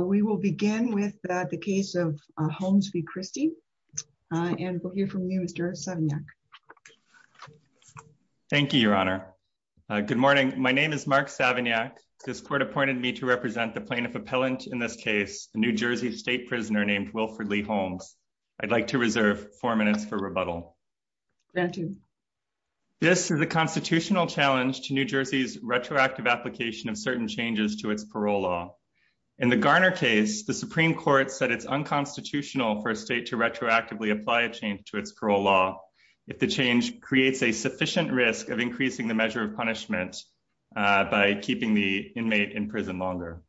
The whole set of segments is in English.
We will begin with the case of Holmes v. Christie. And we'll hear from you, Mr. Savignac. Thank you, Your Honor. Good morning. My name is Mark Savignac. This court appointed me to represent the plaintiff appellant in this case, a New Jersey state prisoner named Wilford Lee Holmes. I'd like to reserve four minutes for rebuttal. Granted. This is a constitutional challenge to New Jersey's retroactive application of certain changes to its parole law. In the Garner case, the Supreme Court said it's unconstitutional for a state to retroactively apply a change to its parole law if the change creates a sufficient risk of increasing the measure of punishment by keeping the inmate in prison longer.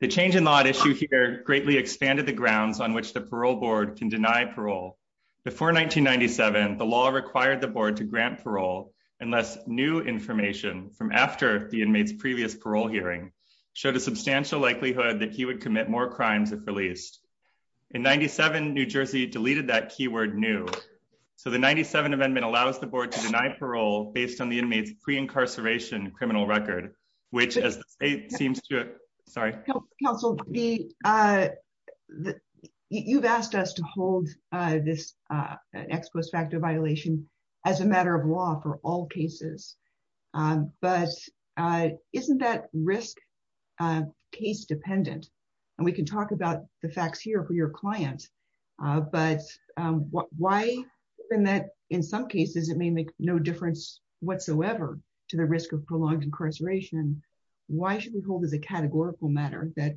The change in law at issue here greatly expanded the grounds on which the parole board can deny parole. Before 1997, the law required the board to grant parole unless new information from after the inmates previous parole hearing showed a substantial likelihood that he would commit more crimes if released. In 97, New Jersey deleted that keyword new. So the 97 amendment allows the board to deny parole based on the inmates pre incarceration criminal record, which seems to Sorry, counsel, the the you've asked us to hold this ex post facto violation as a matter of law for all cases. But isn't that risk case dependent? And we can talk about the facts here for your client. But why, in that in some cases, it may make no difference whatsoever to the risk of prolonged incarceration. Why should we hold as a categorical matter that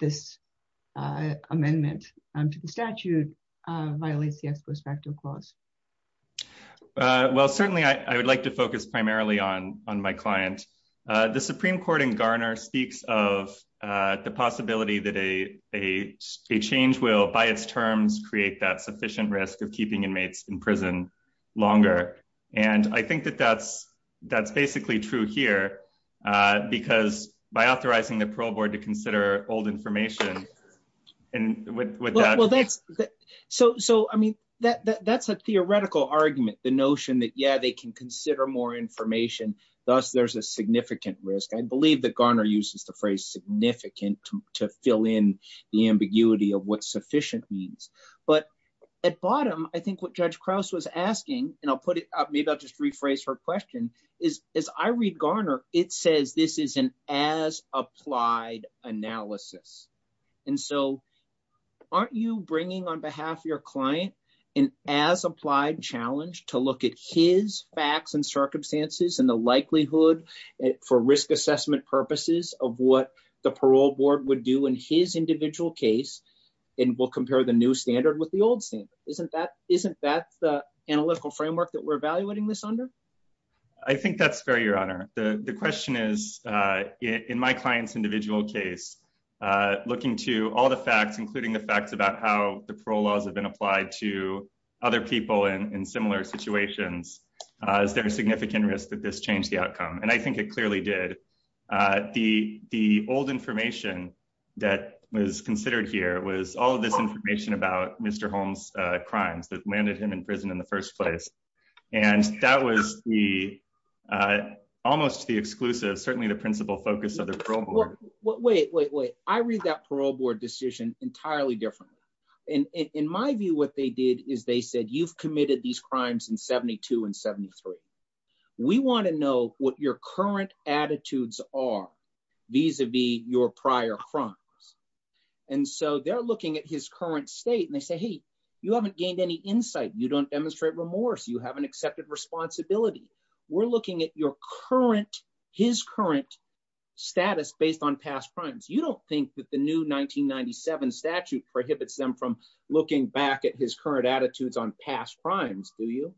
this amendment to the Certainly, I would like to focus primarily on on my client, the Supreme Court in Garner speaks of the possibility that a a change will by its terms create that sufficient risk of keeping inmates in prison longer. And I think that that's, that's basically true here. Because by authorizing the parole board to consider old information. And with that, well, that's that. So So I mean, that that's a theoretical argument, the notion that yeah, they can consider more information. Thus, there's a significant risk, I believe that Garner uses the phrase significant to fill in the ambiguity of what sufficient means. But at bottom, I think what Judge Krause was asking, and I'll put it up, maybe I'll just rephrase her question is, is I read Garner, it says this is an as applied analysis. And so aren't you bringing on behalf of your client, and as applied challenge to look at his facts and circumstances and the likelihood for risk assessment purposes of what the parole board would do in his individual case, and we'll compare the new standard with the old standard, isn't that isn't that the analytical framework that we're evaluating this under? I think that's fair, Your Honor, the question is, in my client's individual case, looking to all the facts, including the facts about how the parole laws have been applied to other people in similar situations, is there a significant risk that this changed the outcome? And I think it clearly did. The the old information that was considered here was all this information about Mr. Holmes crimes that landed him in prison in the parole board. Wait, wait, wait, I read that parole board decision entirely differently. And in my view, what they did is they said, you've committed these crimes in 72 and 73. We want to know what your current attitudes are, vis a vis your prior crimes. And so they're looking at his current state. And they say, hey, you haven't gained any insight, you don't demonstrate remorse, you haven't accepted responsibility. We're looking at your current, his current status based on past crimes, you don't think that the new 1997 statute prohibits them from looking back at his current attitudes on past crimes, do you?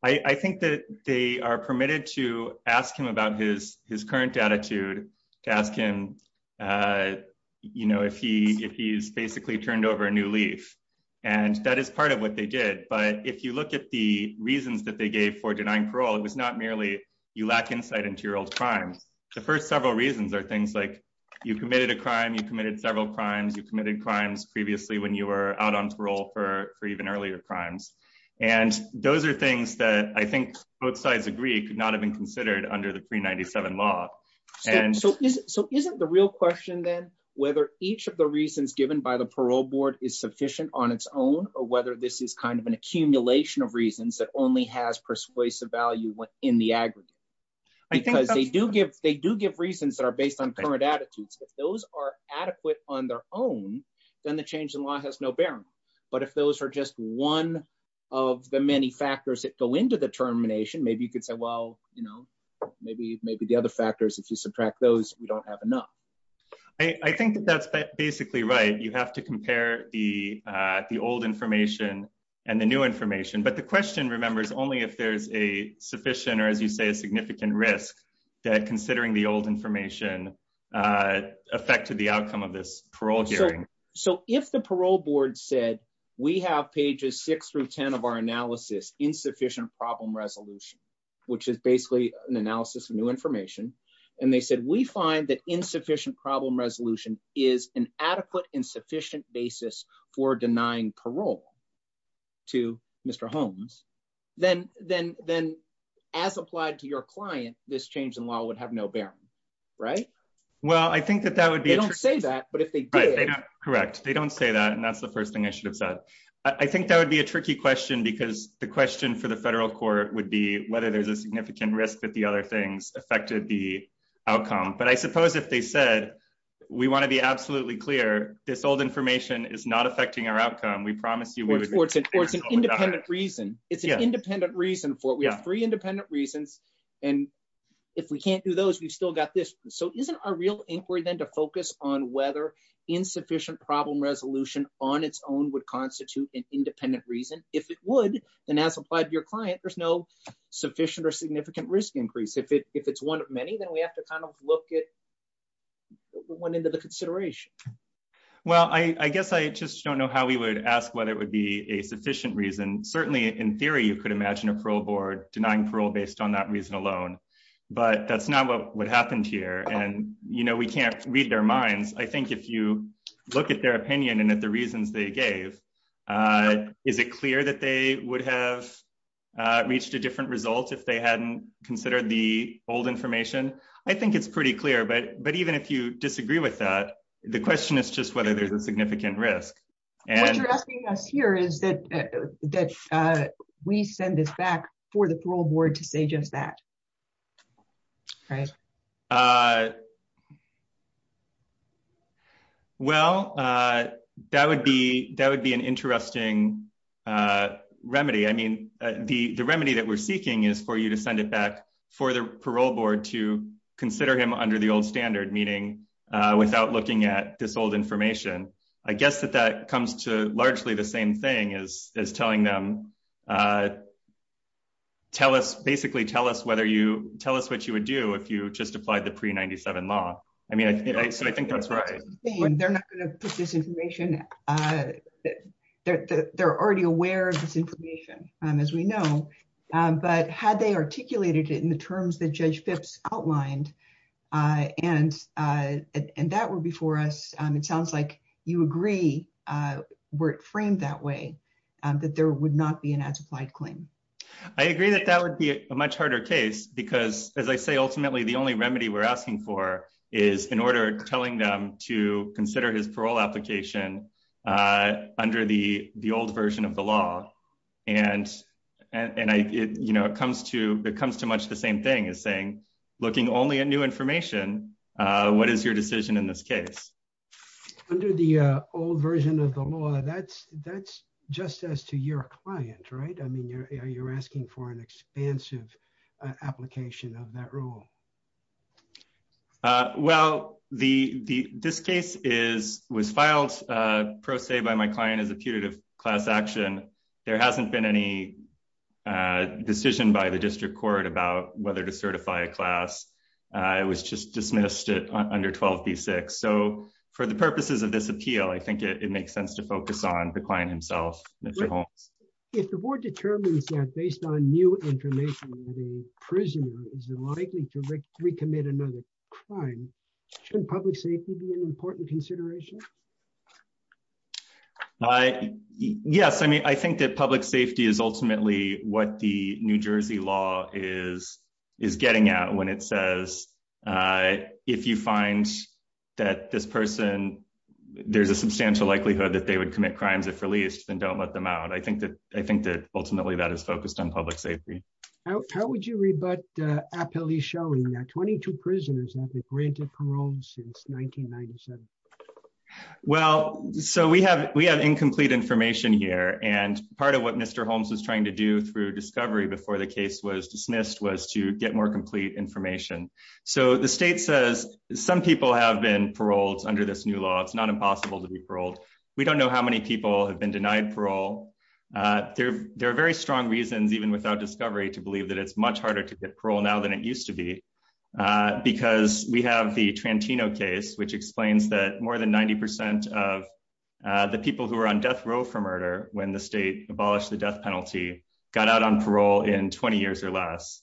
I think that they are permitted to ask him about his his current attitude to ask him, you know, if he if he's basically turned over a new leaf. And that is part of what they did. But if you look at the reasons that they gave for denying parole, it was not merely you lack insight into your old crimes. The first several reasons are things like you committed a crime, you committed several crimes, you committed crimes previously when you were out on parole for even earlier crimes. And those are things that I think both sides agree could not have been considered under the pre 97 law. And so is so isn't the real question then whether each of the reasons given by the parole board is sufficient on its own, or whether this is kind of an accumulation of reasons that only has persuasive value in the aggregate. Because they do give they do give reasons that are based on current attitudes, if those are adequate on their own, then the change in law has no bearing. But if those are just one of the many factors that go into the termination, maybe you could say, well, you know, maybe maybe the other factors, if you subtract those, we don't have enough. I think that's basically right, you have to compare the, the old information, and the new information. But the question remembers only if there's a sufficient or, as you say, a significant risk that considering the old information affected the outcome of this parole hearing. So if the parole board said, we have pages six through 10 of our analysis, insufficient problem resolution, which is basically an analysis of new information. And they said, we find that insufficient problem resolution is an adequate insufficient basis for denying parole to Mr. Holmes, then then then, as applied to your client, this change in law would have no bearing. Right? Well, I think that that would be don't say that. But if they correct, they don't say that. And that's the first thing I should have said. I think that would be a tricky question. Because the question for the federal court would be whether there's a significant risk that the other things affected the outcome. But I suppose if they said, we want to be absolutely clear, this old information is not affecting our outcome, we promise you what it's an independent reason, it's an independent reason for we have three independent reasons. And if we can't do those, we've still got this. So isn't our real inquiry then to focus on whether insufficient problem resolution on its own would constitute an independent reason if it would, and as applied to your client, there's no sufficient or significant risk increase if it if it's one of many, then we have to kind of look at one into the consideration. Well, I guess I just don't know how we would ask whether it would be a sufficient reason. Certainly, in theory, you could imagine a parole board denying parole based on that reason alone. But that's not what happened here. And, you know, we can't read their minds. I think if you look at their opinion, and at the reasons they gave, is it clear that they would have reached a different result if they hadn't considered the old information? I think it's pretty clear. But But even if you disagree with that, the question is just whether there's a significant risk. And here is that, that we send this back for the parole board to say just that. Right? Well, that would be that would be an interesting remedy. I mean, the remedy that we're seeking is for you to send it back for the parole board to consider him under the old standard meaning, without looking at this old information, I guess that that comes to largely the same thing is telling them. Tell us basically, tell us whether you tell us what you would do if you just applied the pre 97 law. I mean, I think that's right. They're not going to put this information. They're already aware of this information, as we know, but had they articulated it in the terms that Judge Phipps outlined, and, and that were before us, it sounds like you agree, were framed that way, that there would not be an as applied claim. I agree that that would be a much harder case. Because as I say, ultimately, the only remedy we're asking for is in order telling them to consider his parole application under the the old version of the law. And, and I, you know, it comes to it comes to much the same thing as saying, looking only at new information, what is your decision in this case, under the old version of the law, that's that's just as to your client, right? I mean, you're, you're asking for an expansive application of that rule. Well, the the this case is was filed, per se, by my client as a putative class action, there hasn't been any decision by the district court about whether to certify a class, it was just dismissed it under 12 v six. So for the purposes of this appeal, I think it makes sense to focus on the client himself. If the board determines that based on new information, the prisoner is likely to recommit another crime, should public safety be an important consideration? I, yes, I mean, I think that public safety is ultimately what the New Jersey law is, getting out when it says, if you find that this person, there's a substantial likelihood that they would commit crimes if released, then don't let them out. I think that I think that ultimately, that is focused on public safety. How would you rebut appellee showing that 22 prisoners have been granted parole since 1997? Well, so we have we have incomplete information here. And part of what Mr. Holmes was trying to through discovery before the case was dismissed was to get more complete information. So the state says some people have been paroled under this new law, it's not impossible to be paroled. We don't know how many people have been denied parole. There are very strong reasons even without discovery to believe that it's much harder to get parole now than it used to be. Because we have the Trentino case, which explains that more than 90% of the people who are on death for murder when the state abolished the death penalty, got out on parole in 20 years or less.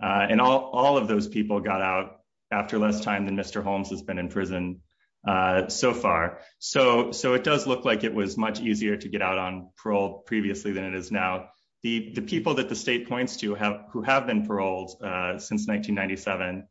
And all of those people got out after less time than Mr. Holmes has been in prison. So far, so so it does look like it was much easier to get out on parole previously than it is now. The people that the state points to have who have been paroled since 1997.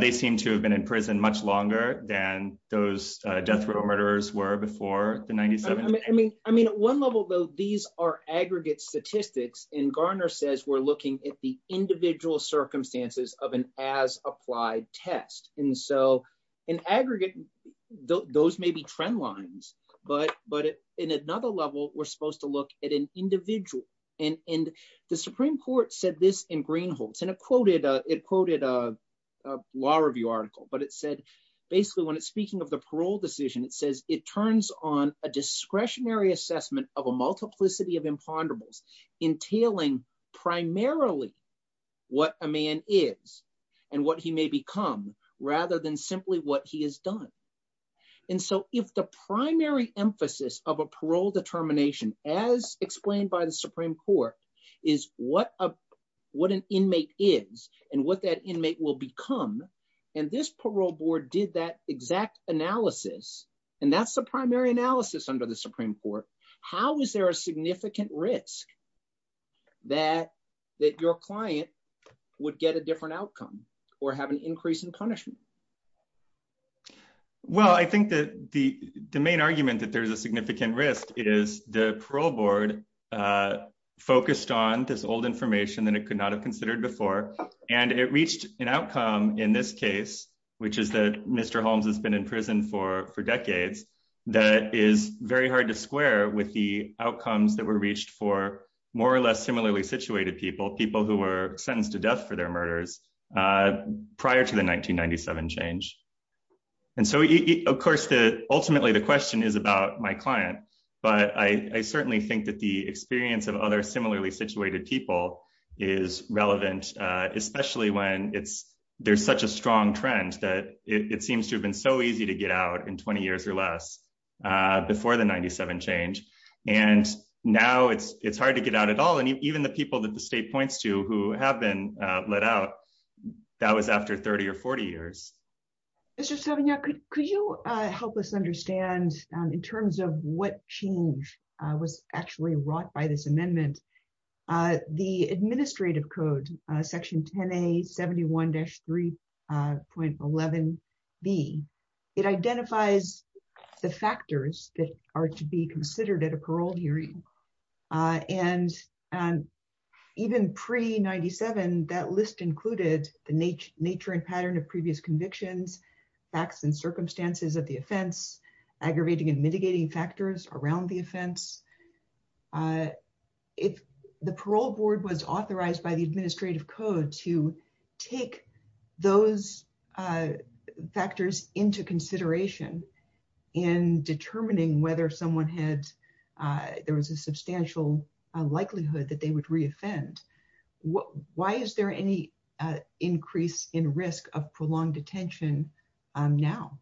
They seem to have been in prison much longer than those death row murderers were before the 97. I mean, I mean, at one level, though, these are aggregate statistics. And Garner says we're looking at the individual circumstances of an as applied test. And so, in aggregate, those may be trend lines. But But in another level, we're supposed to look at an individual. And in the Supreme Court said this in green holes, and it quoted it quoted a law review article, but said, basically, when it's speaking of the parole decision, it says it turns on a discretionary assessment of a multiplicity of imponderables, entailing primarily what a man is, and what he may become, rather than simply what he has done. And so if the primary emphasis of a parole determination, as explained by the Supreme Court, is what a what an inmate is, and what that inmate will become. And this parole board did that exact analysis. And that's the primary analysis under the Supreme Court. How is there a significant risk that that your client would get a different outcome, or have an increase in punishment? Well, I think that the the main argument that there's a significant risk is the parole board focused on this old information that it could not considered before. And it reached an outcome in this case, which is that Mr. Holmes has been in prison for for decades, that is very hard to square with the outcomes that were reached for more or less similarly situated people, people who were sentenced to death for their murders, prior to the 1997 change. And so, of course, the ultimately, the question is about my client. But I certainly think that the experience of other similarly situated people is relevant, especially when it's, there's such a strong trend that it seems to have been so easy to get out in 20 years or less before the 97 change. And now it's it's hard to get out at all. And even the people that the state points to who have been let out, that was after 30 or 40 years. Mr. Savignot, could you help us understand in terms of what change was actually wrought by this amendment, the administrative code, section 10A 71-3.11b, it identifies the factors that are to be considered at a parole hearing. And even pre 97, that list included the nature and pattern of previous convictions, facts and circumstances of the offense, aggravating and mitigating factors around the offense. If the parole board was authorized by the administrative code to take those factors into consideration in determining whether someone had, there was a substantial likelihood that they would reoffend. Why is there any increase in risk of prolonged detention now?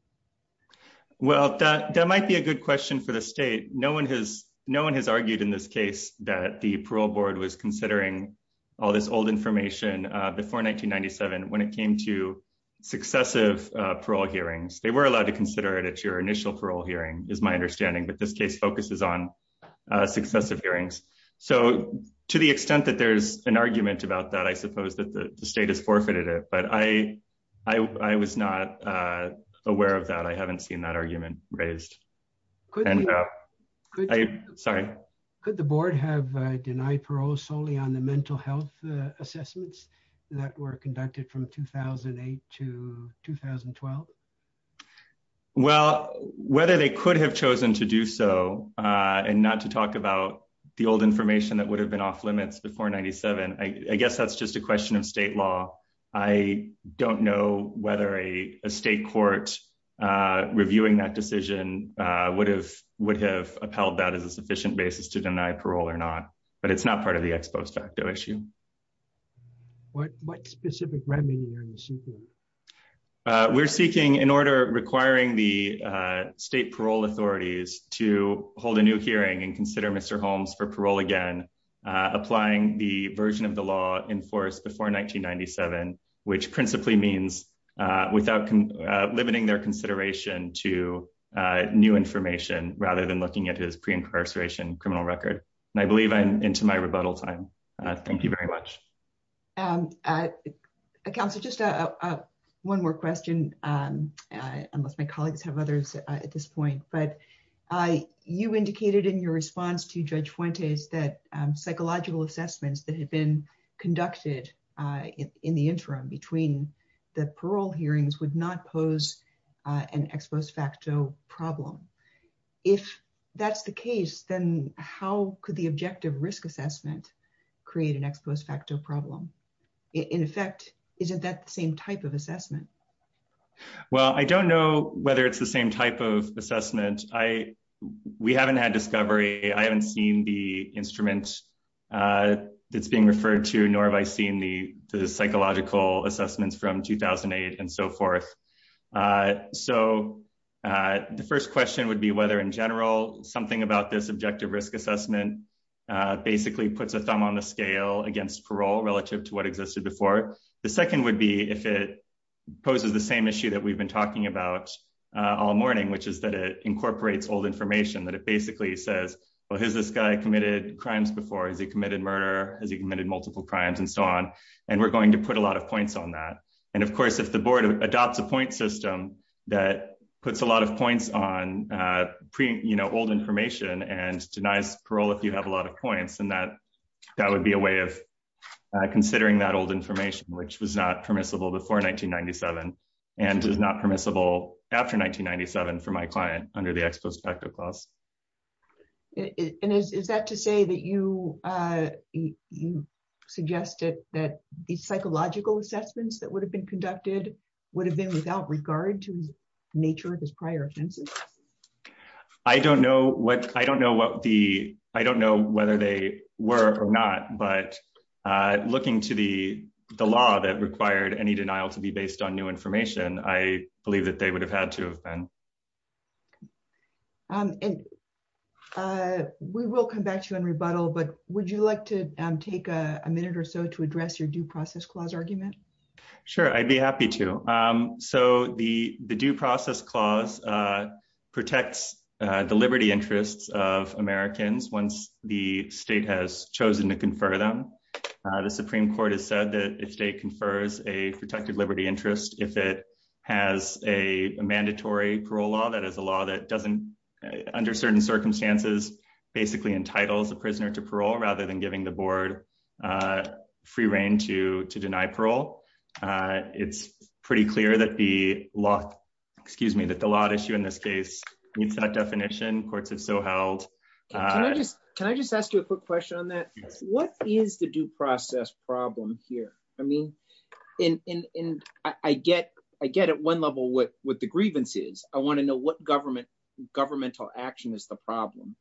Well, that might be a good question for the state. No one has no one has argued in this case that the parole board was considering all this old information before 1997. When it came to successive parole hearings, they were allowed to consider it at your initial parole hearing is my understanding. But this case focuses on successive hearings. So to the extent that there's an argument about that, I suppose that the state has forfeited it. But I was not aware of that. I haven't seen that argument raised. Could the board have denied parole solely on the mental health assessments that were conducted from 2008 to 2012? Well, whether they could have chosen to do so, and not to talk about the old information that would have been off limits before 97, I guess that's just a question of state law. I don't know whether a state court reviewing that decision would have upheld that as a sufficient basis to deny parole or not. But it's not part of the ex post facto issue. What specific remedy are you seeking? We're seeking in order requiring the state parole authorities to hold a new hearing and consider Mr. Holmes for parole again, applying the version of the law enforced before 1997, which principally means without limiting their consideration to new information rather than looking at his pre-incarceration criminal record. And I believe I'm into my rebuttal time. Thank you very much. Counselor, just one more question, unless my colleagues have others at this point. But you indicated in your response to Judge Fuentes that psychological assessments that had been conducted in the interim between the parole hearings would not pose an ex post facto problem. If that's the case, then how could the objective risk assessment create an ex post facto problem? In effect, isn't that the same type of assessment? Well, I don't know whether it's the same type of assessment. We haven't had discovery. I haven't seen the instruments that's being referred to, nor have I seen the psychological assessments from 2008 and so forth. So the first question would be whether in general something about this objective risk assessment basically puts a thumb on the scale against parole relative to what existed before. The second would be if it poses the same issue that we've been talking about all morning, which is that it incorporates old information, that it basically says, well, has this guy committed crimes before? Has he committed murder? Has he committed multiple crimes and so on? And we're going to put a lot of points on that. And of course, if the board adopts a point system that puts a lot of points on old information and denies parole if you have a lot of points, then that would be a way of considering that old information, which was not permissible before 1997 and is not permissible after 1997 for my client under the ex post facto clause. And is that to say that you suggested that the psychological assessments that would have been conducted would have been without regard to the nature of his prior offenses? I don't know whether they were or not, but looking to the the law that required any denial to be based on new information, I believe that they would have had to have been. And we will come back to you on rebuttal, but would you like to take a minute or so to address your due process clause argument? Sure, I'd be happy to. So the due process clause protects the liberty interests of Americans once the state has chosen to confer them. The Supreme Court has said that if state confers a protected liberty interest, if it has a mandatory parole law, that is a law that doesn't under certain circumstances, basically entitles a prisoner to parole rather than giving the board free reign to to deny parole. It's pretty clear that the law, excuse me, that the law issue in this case meets that definition. Courts have so held. Can I just ask you a quick question on that? What is the due process problem here? I get I get at one level what what the grievance is. I want to know what government governmental action is the problem.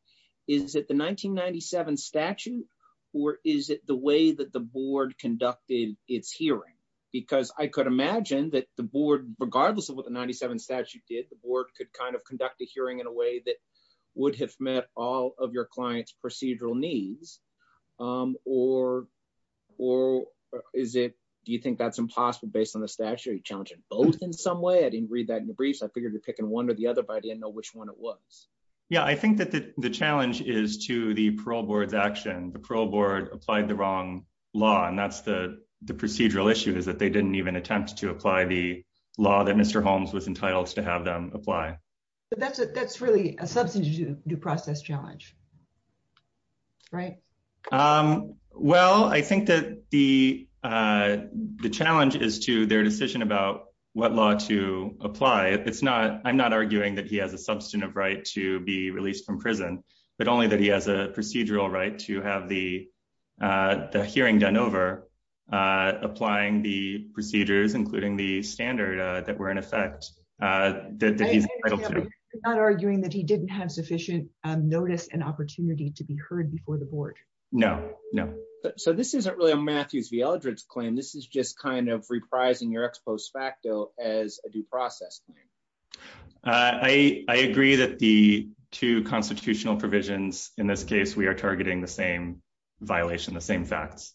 Is it the 1997 statute or is it the way that the board conducted its hearing? Because I could imagine that the board, regardless of what the 97 statute did, the board could kind of conduct a hearing in a way that would have met all of your client's procedural needs. Or or is it do you think that's impossible based on the statute challenging both in some way? I didn't read that in the briefs. I figured you're picking one or the other, but I didn't know which one it was. Yeah, I think that the challenge is to the parole board's action. The parole board applied the wrong law. And that's the the procedural issue is that they didn't even attempt to apply the law that Mr. Holmes was entitled to have them apply. But that's that's really a substantive due process challenge. Right. Well, I think that the the challenge is to their decision about what law to apply. It's not I'm not arguing that he has a substantive right to be released from prison, but only that he has a procedural right to have the hearing done over applying the procedures, including the standard that were in effect. That he's not arguing that he didn't have sufficient notice and opportunity to be heard before the board. No, no. So this isn't really a Matthews v. Eldridge claim. This is just kind of reprising your ex post facto as a due process. I agree that the two constitutional provisions in this case, we are targeting the same violation, the same facts.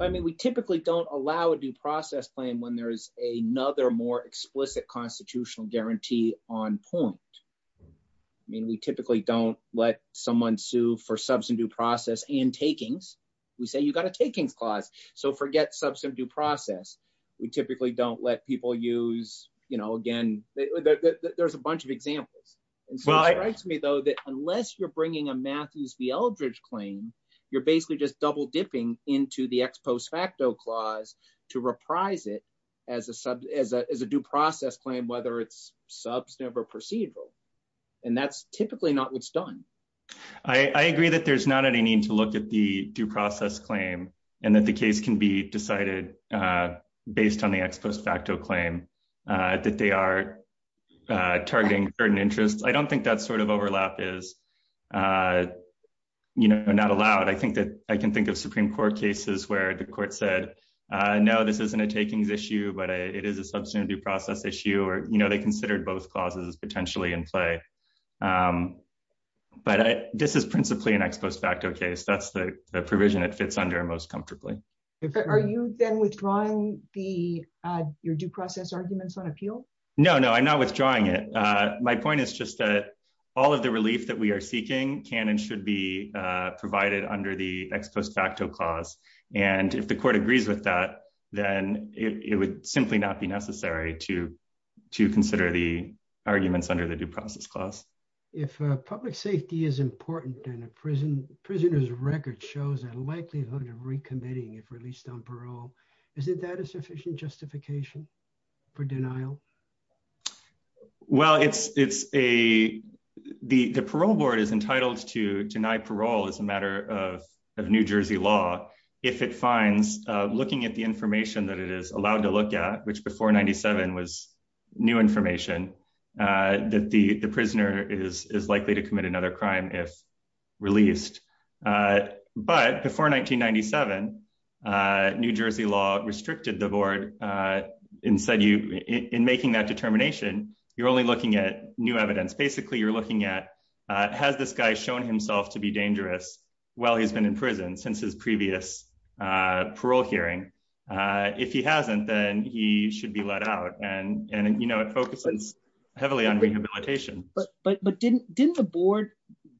I mean, we typically don't allow a due process claim when there is another more explicit constitutional guarantee on point. I mean, we typically don't let someone sue for substantive due process and takings. We say you got a takings clause. So forget substantive due process. We typically don't let people use, you know, again, there's a bunch of examples. And so it strikes me, though, that unless you're bringing a Matthews v. Eldridge claim, you're not going to be able to reprise it as a due process claim, whether it's substantive or procedural. And that's typically not what's done. I agree that there's not any need to look at the due process claim and that the case can be decided based on the ex post facto claim that they are targeting certain interests. I don't think that sort of overlap is, you know, not allowed. I think that I can think of Supreme Court cases where the court said, no, this isn't a takings issue, but it is a substantive due process issue or, you know, they considered both clauses potentially in play. But this is principally an ex post facto case. That's the provision it fits under most comfortably. Are you then withdrawing the your due process arguments on appeal? No, no, I'm not withdrawing it. My point is just that all of the relief that we are seeking can and should be provided under the ex post facto clause. And if the court agrees with that, then it would simply not be necessary to to consider the arguments under the due process clause. If public safety is important in a prison, prisoners record shows a likelihood of recommitting if released on parole. Is it that a sufficient justification for denial? Well, it's it's a the parole board is entitled to deny parole as a matter of of New Jersey law if it finds looking at the information that it is allowed to look at, which before 97 was new information that the prisoner is likely to commit another crime if released. But before 1997, New Jersey law restricted the board and said you in making that determination, you're only looking at new evidence. Basically, you're looking at has this guy shown himself to be dangerous while he's been in prison since his previous parole hearing? If he hasn't, then he should be let out. And, you know, it focuses heavily on rehabilitation. But didn't didn't the board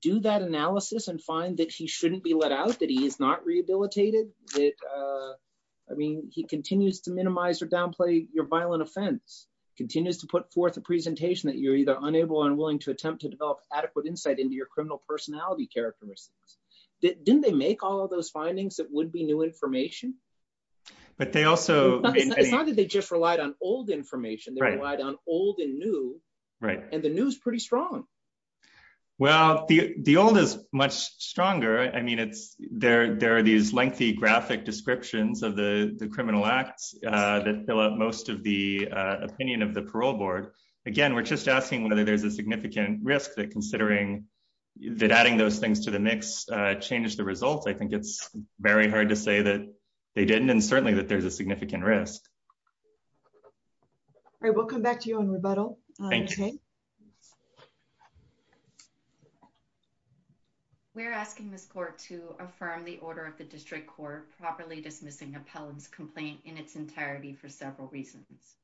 do that analysis and find that he shouldn't be let out, that he is not rehabilitated? I mean, he continues to minimize or downplay your violent offense, continues to put forth a presentation that you're either unable and to attempt to develop adequate insight into your criminal personality characteristics. Didn't they make all of those findings that would be new information? But they also decided they just relied on old information. They relied on old and new. Right. And the news pretty strong. Well, the old is much stronger. I mean, it's there. There are these lengthy graphic descriptions of the criminal acts that fill up most of the opinion of the parole board. Again, we're just asking whether there's a significant risk that considering that adding those things to the mix changes the results. I think it's very hard to say that they didn't. And certainly that there's a significant risk. All right, we'll come back to you on rebuttal. We're asking this court to affirm the order of the district court properly dismissing in its entirety for several reasons.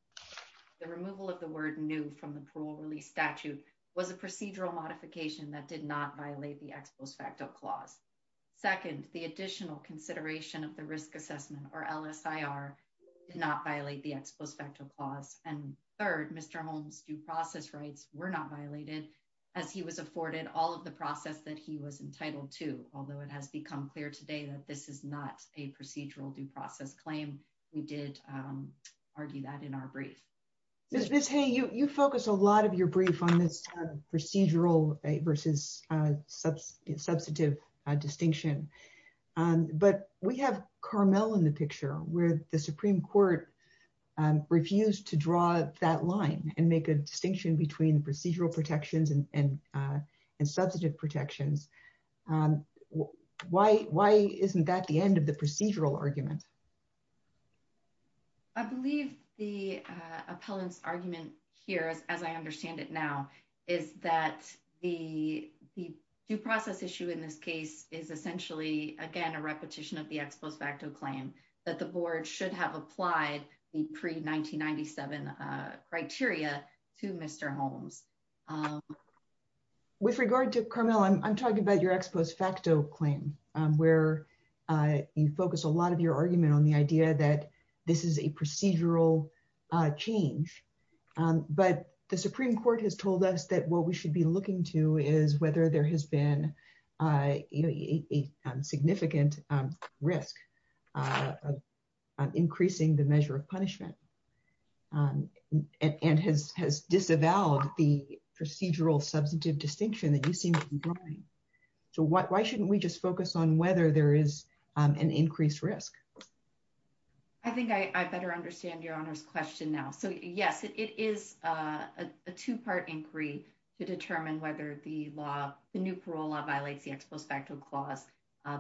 The removal of the word new from the parole release statute was a procedural modification that did not violate the ex post facto clause. Second, the additional consideration of the risk assessment or LSIR did not violate the ex post facto clause. And third, Mr. Holmes due process rights were not violated as he was afforded all of the process that he was entitled to. Although it has become clear today that this is not a procedural due process claim, we did argue that in our brief. Miss Hay, you focus a lot of your brief on this procedural versus substantive distinction. But we have Carmel in the picture where the Supreme Court refused to draw that line and make a distinction between procedural protections and substantive protections. And why isn't that the end of the procedural argument? I believe the appellant's argument here, as I understand it now, is that the due process issue in this case is essentially, again, a repetition of the ex post facto claim that the board should have applied the pre 1997 criteria to Mr. Holmes. With regard to Carmel, I'm talking about your ex post facto claim, where you focus a lot of your argument on the idea that this is a procedural change. But the Supreme Court has told us that what we should be looking to is whether there has been a significant risk of increasing the measure of punishment and has disavowed the procedural substantive distinction that you seem to be drawing. So why shouldn't we just focus on whether there is an increased risk? I think I better understand your honor's question now. So yes, it is a two part inquiry to determine whether the new parole law violates the ex post facto clause.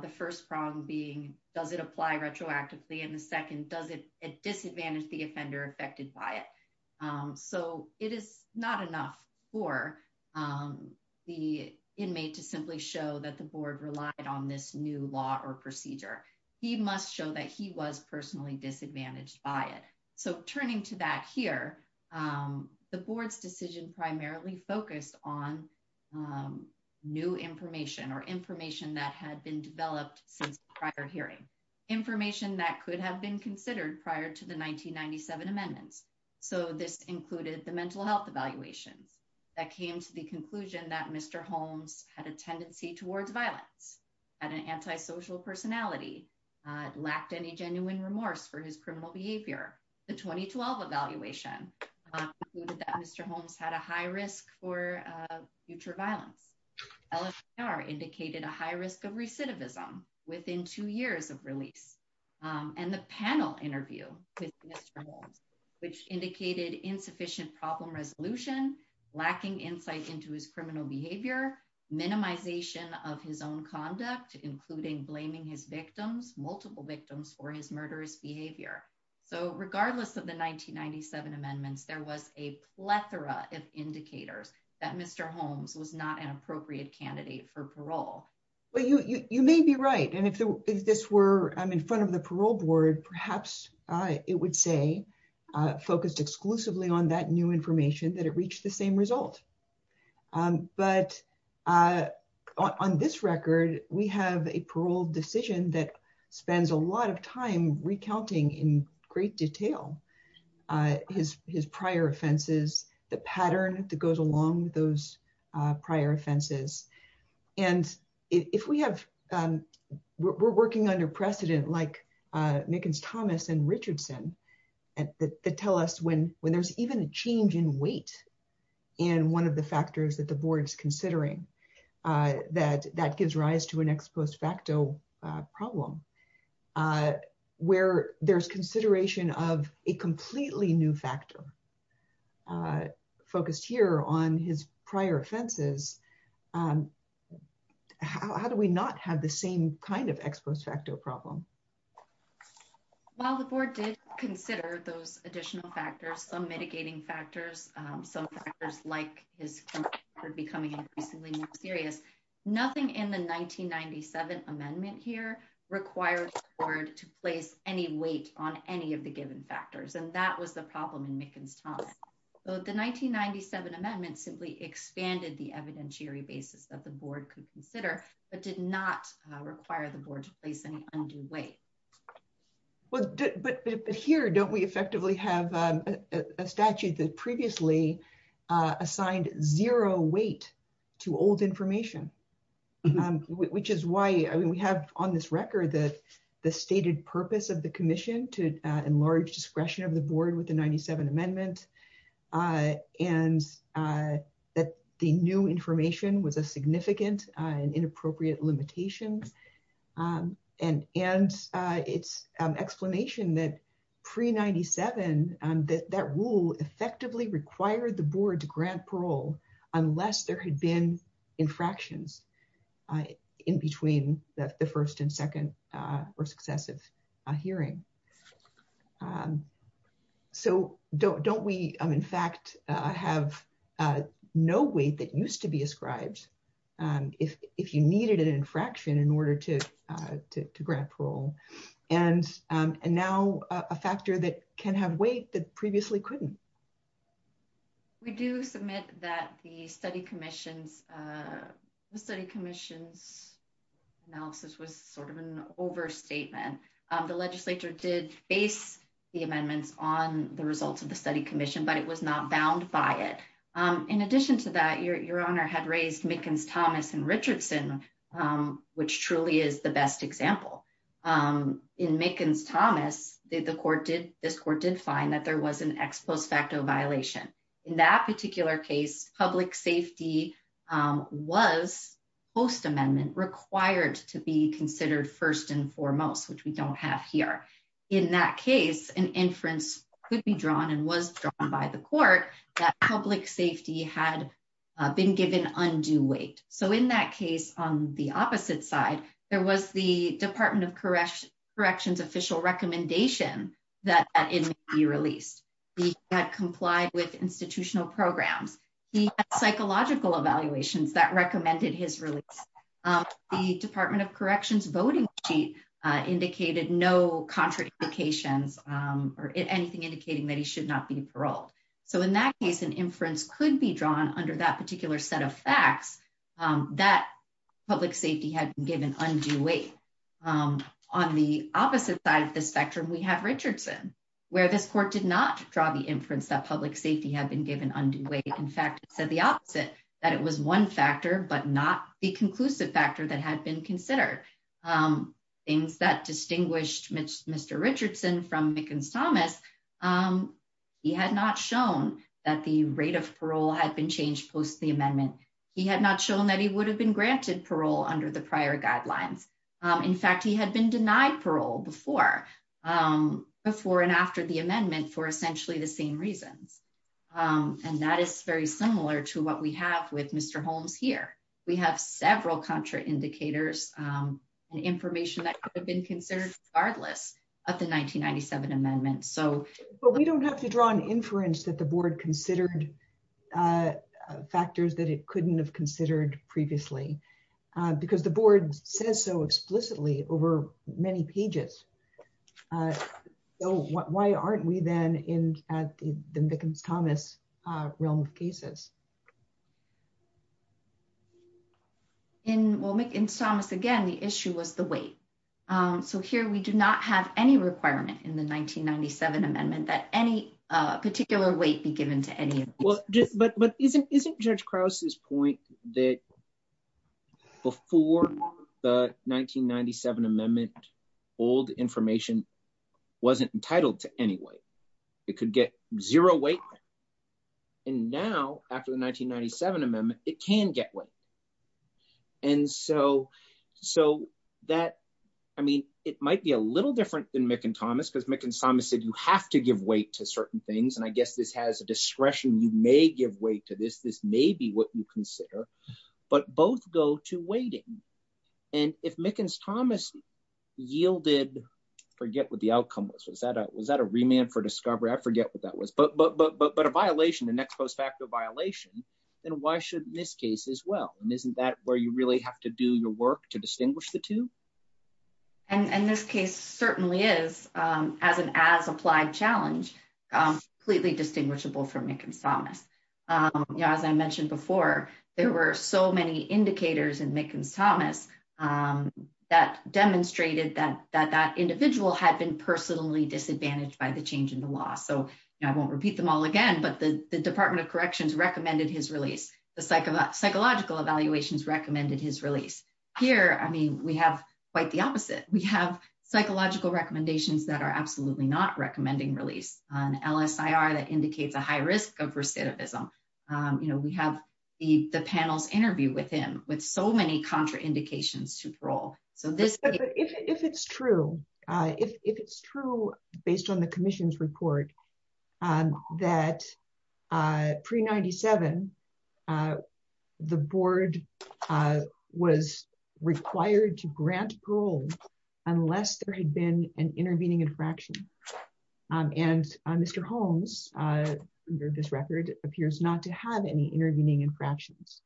The first prong being, does it apply retroactively? And the second, does it disadvantage the offender affected by it? So it is not enough for the inmate to simply show that the board relied on this new law or procedure. He must show that he was personally disadvantaged by it. So turning to that here, the board's decision primarily focused on new information or information that had been developed since prior hearing. Information that could have been considered prior to the 1997 amendments. So this included the mental health evaluations that came to the conclusion that Mr. Holmes had a tendency towards violence, had an antisocial personality, lacked any genuine remorse for his actions. Mr. Holmes had a high risk for future violence. LAPR indicated a high risk of recidivism within two years of release. And the panel interview with Mr. Holmes, which indicated insufficient problem resolution, lacking insight into his criminal behavior, minimization of his own conduct, including blaming his victims, multiple victims for his murderous behavior. So regardless of the 1997 amendments, there was a plethora of indicators that Mr. Holmes was not an appropriate candidate for parole. Well, you may be right. And if this were in front of the parole board, perhaps it would say, focused exclusively on that new information, that it reached the same result. But on this record, we have a parole decision that spends a lot of time recounting in great detail his prior offenses, the pattern that goes along with those prior offenses. And if we have, we're working under precedent like Mickens-Thomas and Richardson that tell us when there's even a change in weight in one of the factors that the board's considering, where there's consideration of a completely new factor focused here on his prior offenses, how do we not have the same kind of ex post facto problem? While the board did consider those additional factors, some mitigating factors, some factors like his becoming increasingly more serious, nothing in the 1997 amendment here required the board to place any weight on any of the given factors. And that was the problem in Mickens-Thomas. So the 1997 amendment simply expanded the evidentiary basis that the board could consider, but did not require the board to place any undue weight. But here, don't we effectively have a statute that previously assigned zero weight to old information, which is why, I mean, we have on this record that the stated purpose of the commission to enlarge discretion of the board with the 97 amendment and that the new information was a significant and inappropriate limitations. And it's explanation that pre-97, that rule effectively required the board to grant parole unless there had been infractions in between the first and second or successive hearing. So don't we, in fact, have no weight that used to be ascribed if you needed an infraction in order to grant parole. And now a factor that can have that previously couldn't. We do submit that the study commission's analysis was sort of an overstatement. The legislature did base the amendments on the results of the study commission, but it was not bound by it. In addition to that, your honor had raised Mickens-Thomas and Richardson, which truly is the best example. In Mickens-Thomas, this court did find that there was an ex post facto violation. In that particular case, public safety was post amendment required to be considered first and foremost, which we don't have here. In that case, an inference could be drawn and was drawn by the court that public safety had been given undue weight. So in that case, on the opposite side, there was the department of corrections official recommendation that it be released. He had complied with institutional programs, psychological evaluations that recommended his release. The department of corrections voting sheet indicated no contraindications or anything indicating that he should not be paroled. So in that case, an inference could be drawn under that particular set of facts that public safety had been given undue weight. On the opposite side of the spectrum, we have Richardson, where this court did not draw the inference that public safety had been given undue weight. In fact, it said the opposite, that it was one factor, but not the conclusive factor that had been considered. Things that distinguished Mr. Richardson from Mickens-Thomas, he had not shown that the rate of parole had been changed post the amendment. He had not shown that he would have been granted parole under the prior guidelines. In fact, he had been denied parole before and after the amendment for essentially the same reasons. And that is very similar to what we have with Mr. Holmes here. We have several contraindicators and information that could have been considered regardless of the 1997 amendment. But we don't have to draw an inference that the board considered factors that it couldn't have considered previously, because the board says so explicitly over many pages. So why aren't we then in the Mickens-Thomas realm of cases? In Mickens-Thomas, again, the issue was the weight. So here we do not have any requirement in the 1997 amendment that any particular weight be given to any of these. But isn't Judge Krause's point that before the 1997 amendment, old information wasn't entitled to any weight? It could get zero weight, and now actually, it's not entitled to any weight after the 1997 amendment, it can get weight. And so that, I mean, it might be a little different than Mickens-Thomas, because Mickens-Thomas said you have to give weight to certain things, and I guess this has a discretion, you may give weight to this, this may be what you consider, but both go to weighting. And if Mickens-Thomas yielded, forget what the outcome was, was that a remand for discovery? I forget what that was, but a violation, the next post-facto violation, then why shouldn't this case as well? And isn't that where you really have to do your work to distinguish the two? And this case certainly is, as an as-applied challenge, completely distinguishable from Mickens-Thomas. You know, as I mentioned before, there were so many indicators in Mickens-Thomas that demonstrated that that individual had been personally disadvantaged by the change in the law. So I won't repeat them all again, but the Department of Corrections recommended his release, the Psychological Evaluations recommended his release. Here, I mean, we have quite the opposite. We have psychological recommendations that are absolutely not recommending release, an LSIR that indicates a high risk of recidivism. You know, we have the panel's interview with him with so many contraindications to parole. So this- based on the commission's report, that pre-97, the board was required to grant parole unless there had been an intervening infraction. And Mr. Holmes, under this record, appears not to have any intervening infractions.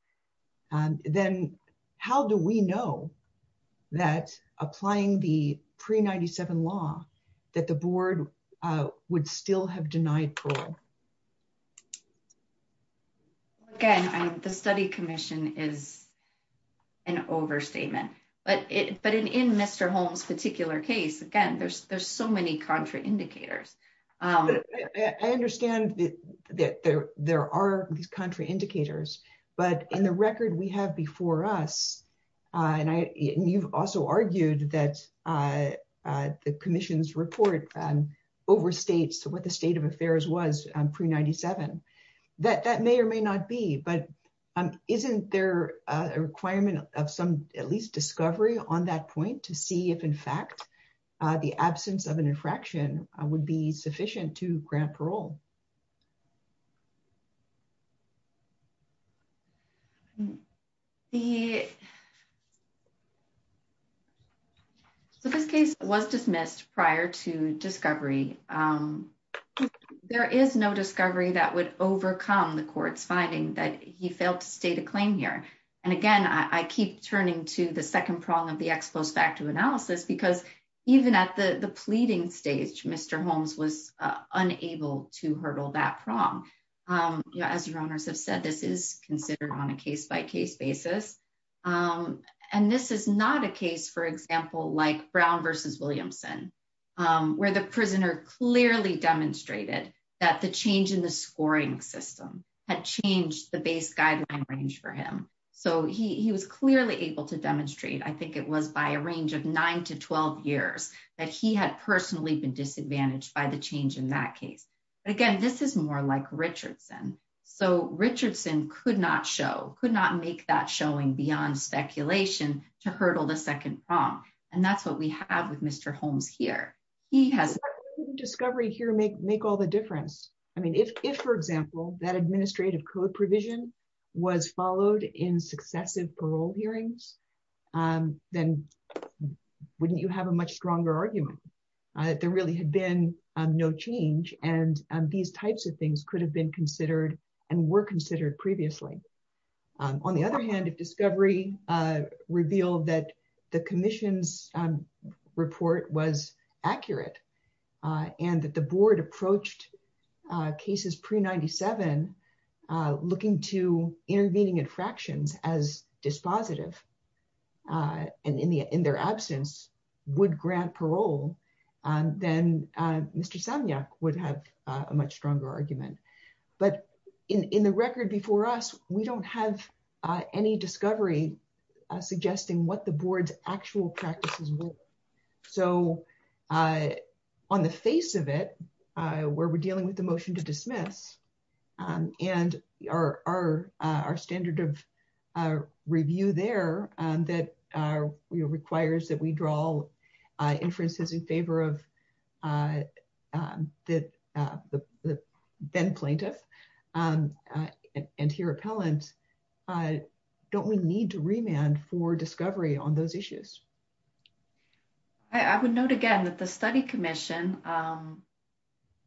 Then how do we know that applying the pre-97 law that the board would still have denied parole? Again, the study commission is an overstatement, but in Mr. Holmes' particular case, again, there's so many contraindicators. I understand that there are these contraindicators, but in the record we have before us, and you've also argued that the commission's report overstates what the state of affairs was pre-97. That may or may not be, but isn't there a requirement of some, at least, discovery on that point to see if, in fact, the absence of an intervention. So this case was dismissed prior to discovery. There is no discovery that would overcome the court's finding that he failed to state a claim here. And again, I keep turning to the second prong of the ex post facto analysis, because even at the pleading stage, Mr. Holmes was considered on a case-by-case basis. And this is not a case, for example, like Brown versus Williamson, where the prisoner clearly demonstrated that the change in the scoring system had changed the base guideline range for him. So he was clearly able to demonstrate, I think it was by a range of nine to 12 years, that he had personally been disadvantaged by the change in that case. But again, this is more like Richardson. So Richardson could not show, could not make that showing beyond speculation to hurdle the second prong. And that's what we have with Mr. Holmes here. He has... But wouldn't discovery here make all the difference? I mean, if, for example, that administrative code provision was followed in successive parole hearings, then wouldn't you have a much stronger argument that there really had been no change, and these types of things could have been considered and were considered previously? On the other hand, if discovery revealed that the commission's report was accurate, and that the board approached cases pre-97 looking to intervening infractions as dispositive, and in their absence, would grant parole, then Mr. Samyak would have a much stronger argument. But in the record before us, we don't have any discovery suggesting what the board's actual practices were. So on the face of it, where we're dealing with the motion to dismiss, and our standard of review there that requires that we draw inferences in favor of the then plaintiff, and here appellant, don't we need to remand for discovery on those issues? I would note again that the study commission,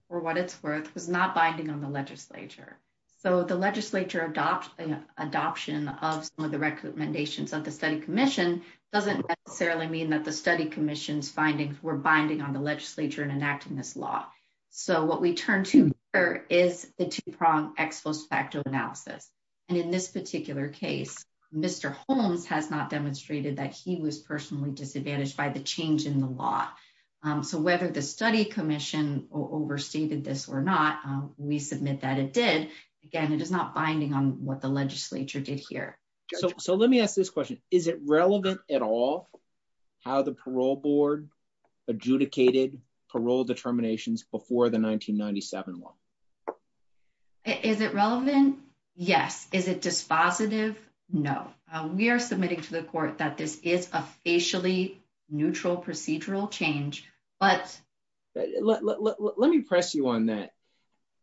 for what it's worth, was not binding on the legislature. So the legislature adoption of some of the recommendations of the study commission doesn't necessarily mean that the study commission's findings were binding on the legislature in enacting this law. So what we turn to here is the two-pronged ex post facto analysis. And in this particular case, Mr. Holmes has not demonstrated that he was personally disadvantaged by the change in the law. So whether the study commission overstated this or not, we submit that it did. Again, it is not binding on what the legislature did here. So let me ask this question. Is it relevant at all how the parole board adjudicated parole determinations before the 1997 law? Is it relevant? Yes. Is it dispositive? No. We are submitting to the court that this is a facially neutral procedural change. Let me press you on that.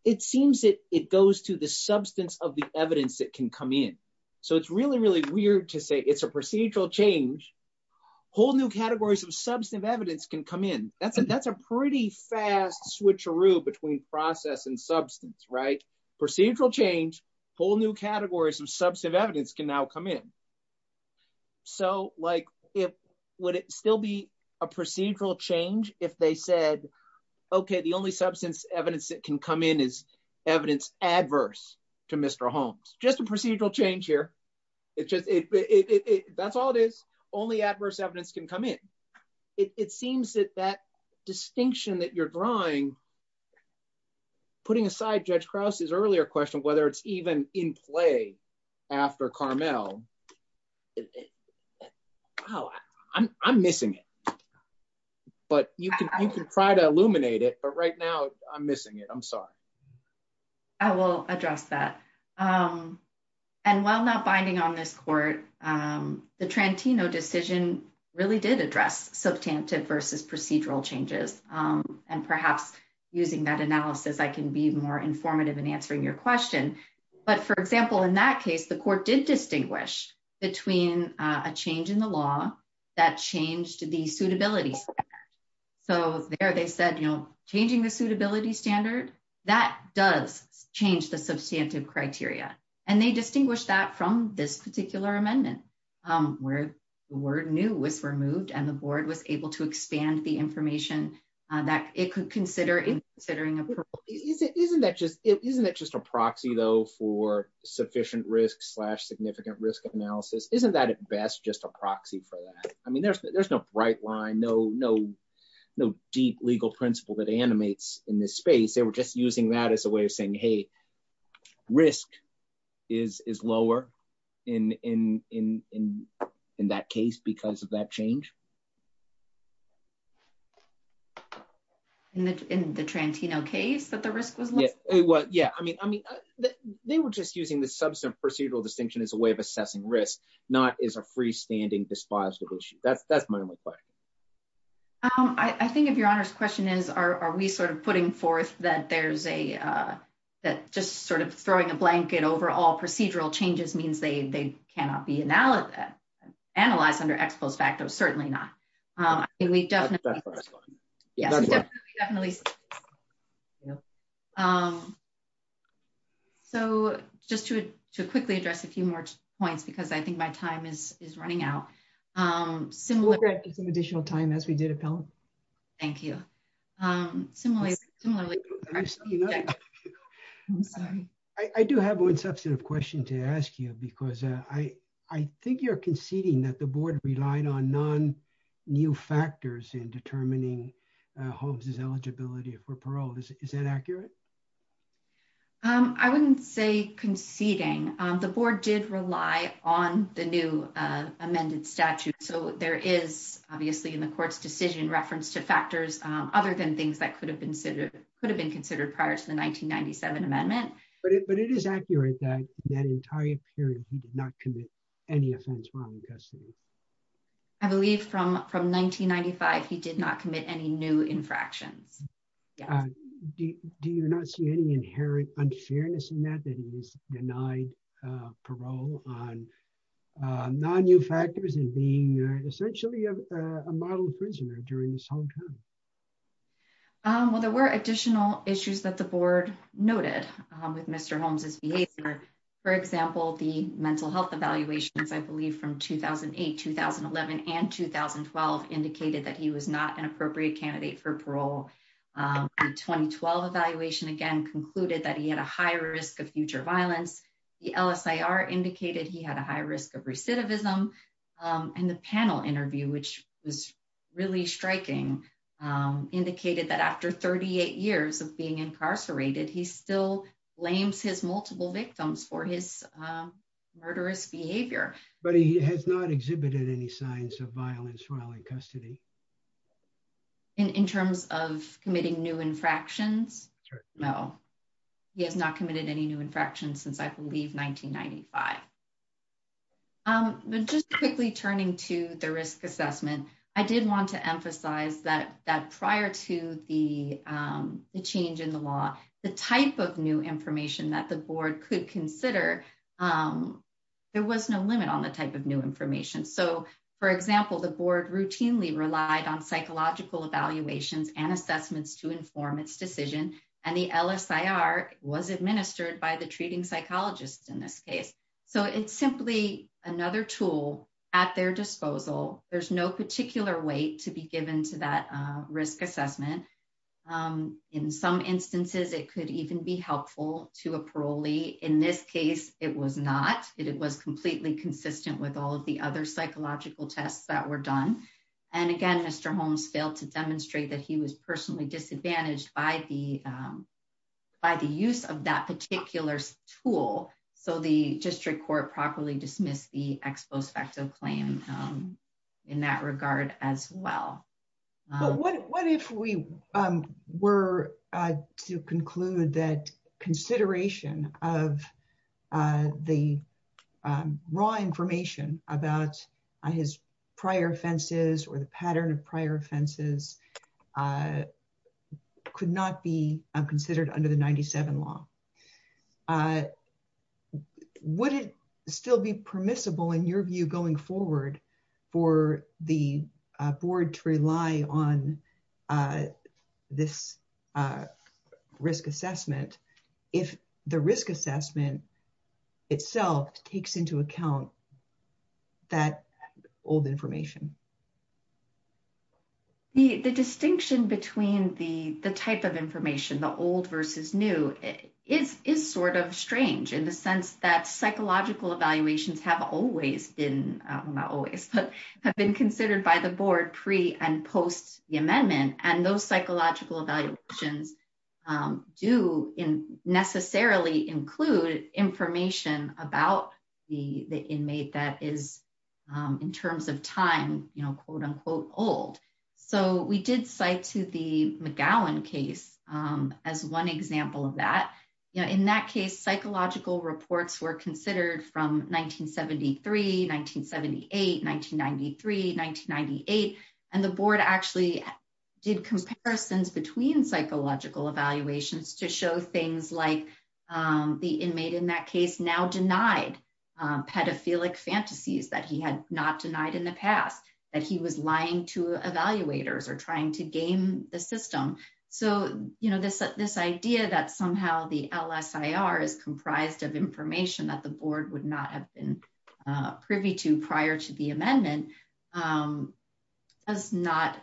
It seems that it goes to the substance of the evidence that can come in. So it's really, really weird to say it's a procedural change. Whole new categories of substantive evidence can come in. That's a pretty fast switcheroo between process and substance, right? Procedural change, whole new categories of substantive evidence can come in. So would it still be a procedural change if they said, okay, the only substance evidence that can come in is evidence adverse to Mr. Holmes? Just a procedural change here. That's all it is. Only adverse evidence can come in. It seems that that distinction that you're drawing, putting aside Judge Krause's earlier question, whether it's even in play after Carmel, oh, I'm missing it. But you can try to illuminate it. But right now, I'm missing it. I'm sorry. I will address that. And while not binding on this court, the Trantino decision really did address substantive versus procedural changes. And perhaps using that analysis, I can be more informative in answering your question. But for example, in that case, the court did distinguish between a change in the law that changed the suitability standard. So there they said, changing the suitability standard, that does change the substantive criteria. And they to expand the information that it could consider. Isn't it just a proxy, though, for sufficient risk slash significant risk analysis? Isn't that at best just a proxy for that? I mean, there's no bright line, no deep legal principle that animates in this space. They were just using that as a way of saying, hey, risk is lower in that case because of that change. In the Trantino case that the risk was lower? Yeah. I mean, they were just using the substantive procedural distinction as a way of assessing risk, not as a freestanding dispositive issue. That's my only question. I think if Your Honor's question is, are we sort of putting forth that just sort of throwing a blanket over all procedural changes means they cannot be certainly not. So just to quickly address a few more points, because I think my time is running out. We'll grab some additional time as we did, Appellant. Thank you. I do have one substantive question to ask you, because I think you're conceding that the board relied on non-new factors in determining Holmes's eligibility for parole. Is that accurate? I wouldn't say conceding. The board did rely on the new amended statute. So there is obviously in the court's decision reference to factors other than things that could have been considered prior to the 1997 amendment. But it is accurate that that entire period he did not commit any offense while in custody. I believe from 1995 he did not commit any new infractions. Do you not see any inherent unfairness in that, that he was denied parole on non-new factors and being essentially a model prisoner during this whole time? Well, there were additional issues that the board noted with Mr. Holmes's behavior. For example, the mental health evaluations, I believe from 2008, 2011, and 2012 indicated that he was not an appropriate candidate for parole. The 2012 evaluation again concluded that he had a high risk of future violence. The LSIR indicated he had a high risk of recidivism. And the panel interview, which was really striking, indicated that after 38 years of being incarcerated, he still blames his multiple victims for his murderous behavior. But he has not exhibited any signs of violence while in custody? In terms of committing new infractions? No. He has not committed any new infractions since, I believe, 1995. Just quickly turning to the risk assessment, I did want to emphasize that prior to the change in the law, the type of new information that the board could consider, there was no limit on the type of new information. So, for example, the board routinely relied on was administered by the treating psychologist in this case. So, it's simply another tool at their disposal. There's no particular weight to be given to that risk assessment. In some instances, it could even be helpful to a parolee. In this case, it was not. It was completely consistent with all of the other psychological tests that were done. And again, failed to demonstrate that he was personally disadvantaged by the use of that particular tool. So, the district court properly dismissed the ex post facto claim in that regard as well. What if we were to conclude that consideration of the raw information about his or the pattern of prior offenses could not be considered under the 97 law? Would it still be permissible in your view going forward for the board to rely on this risk assessment if the risk assessment itself takes into account that old information? The distinction between the type of information, the old versus new, is sort of strange in the sense that psychological evaluations have always been, not always, but have been considered by the board pre and post the amendment. And those psychological evaluations do necessarily include information about the inmate that is, in terms of time, you know, quote unquote old. So, we did cite to the McGowan case as one example of that. In that case, psychological reports were considered from 1973, 1978, 1993, 1998, and the board actually did comparisons between psychological evaluations to show things like the inmate in that case now denied pedophilic fantasies that he had not denied in the past, that he was lying to evaluators or trying to game the system. So, you know, this idea that somehow the LSIR is comprised of information that the board would not have been privy to prior to the amendment does not,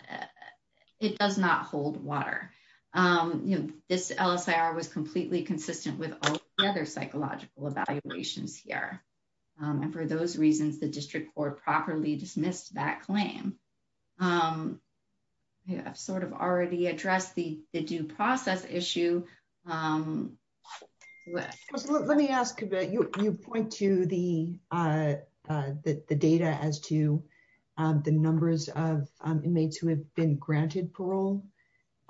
it does not hold water. You know, this LSIR was completely consistent with other psychological evaluations here. And for those reasons, the district court properly dismissed that claim. I've sort of already addressed the due process issue. Let me ask, you point to the data as to the numbers of inmates who have been granted parole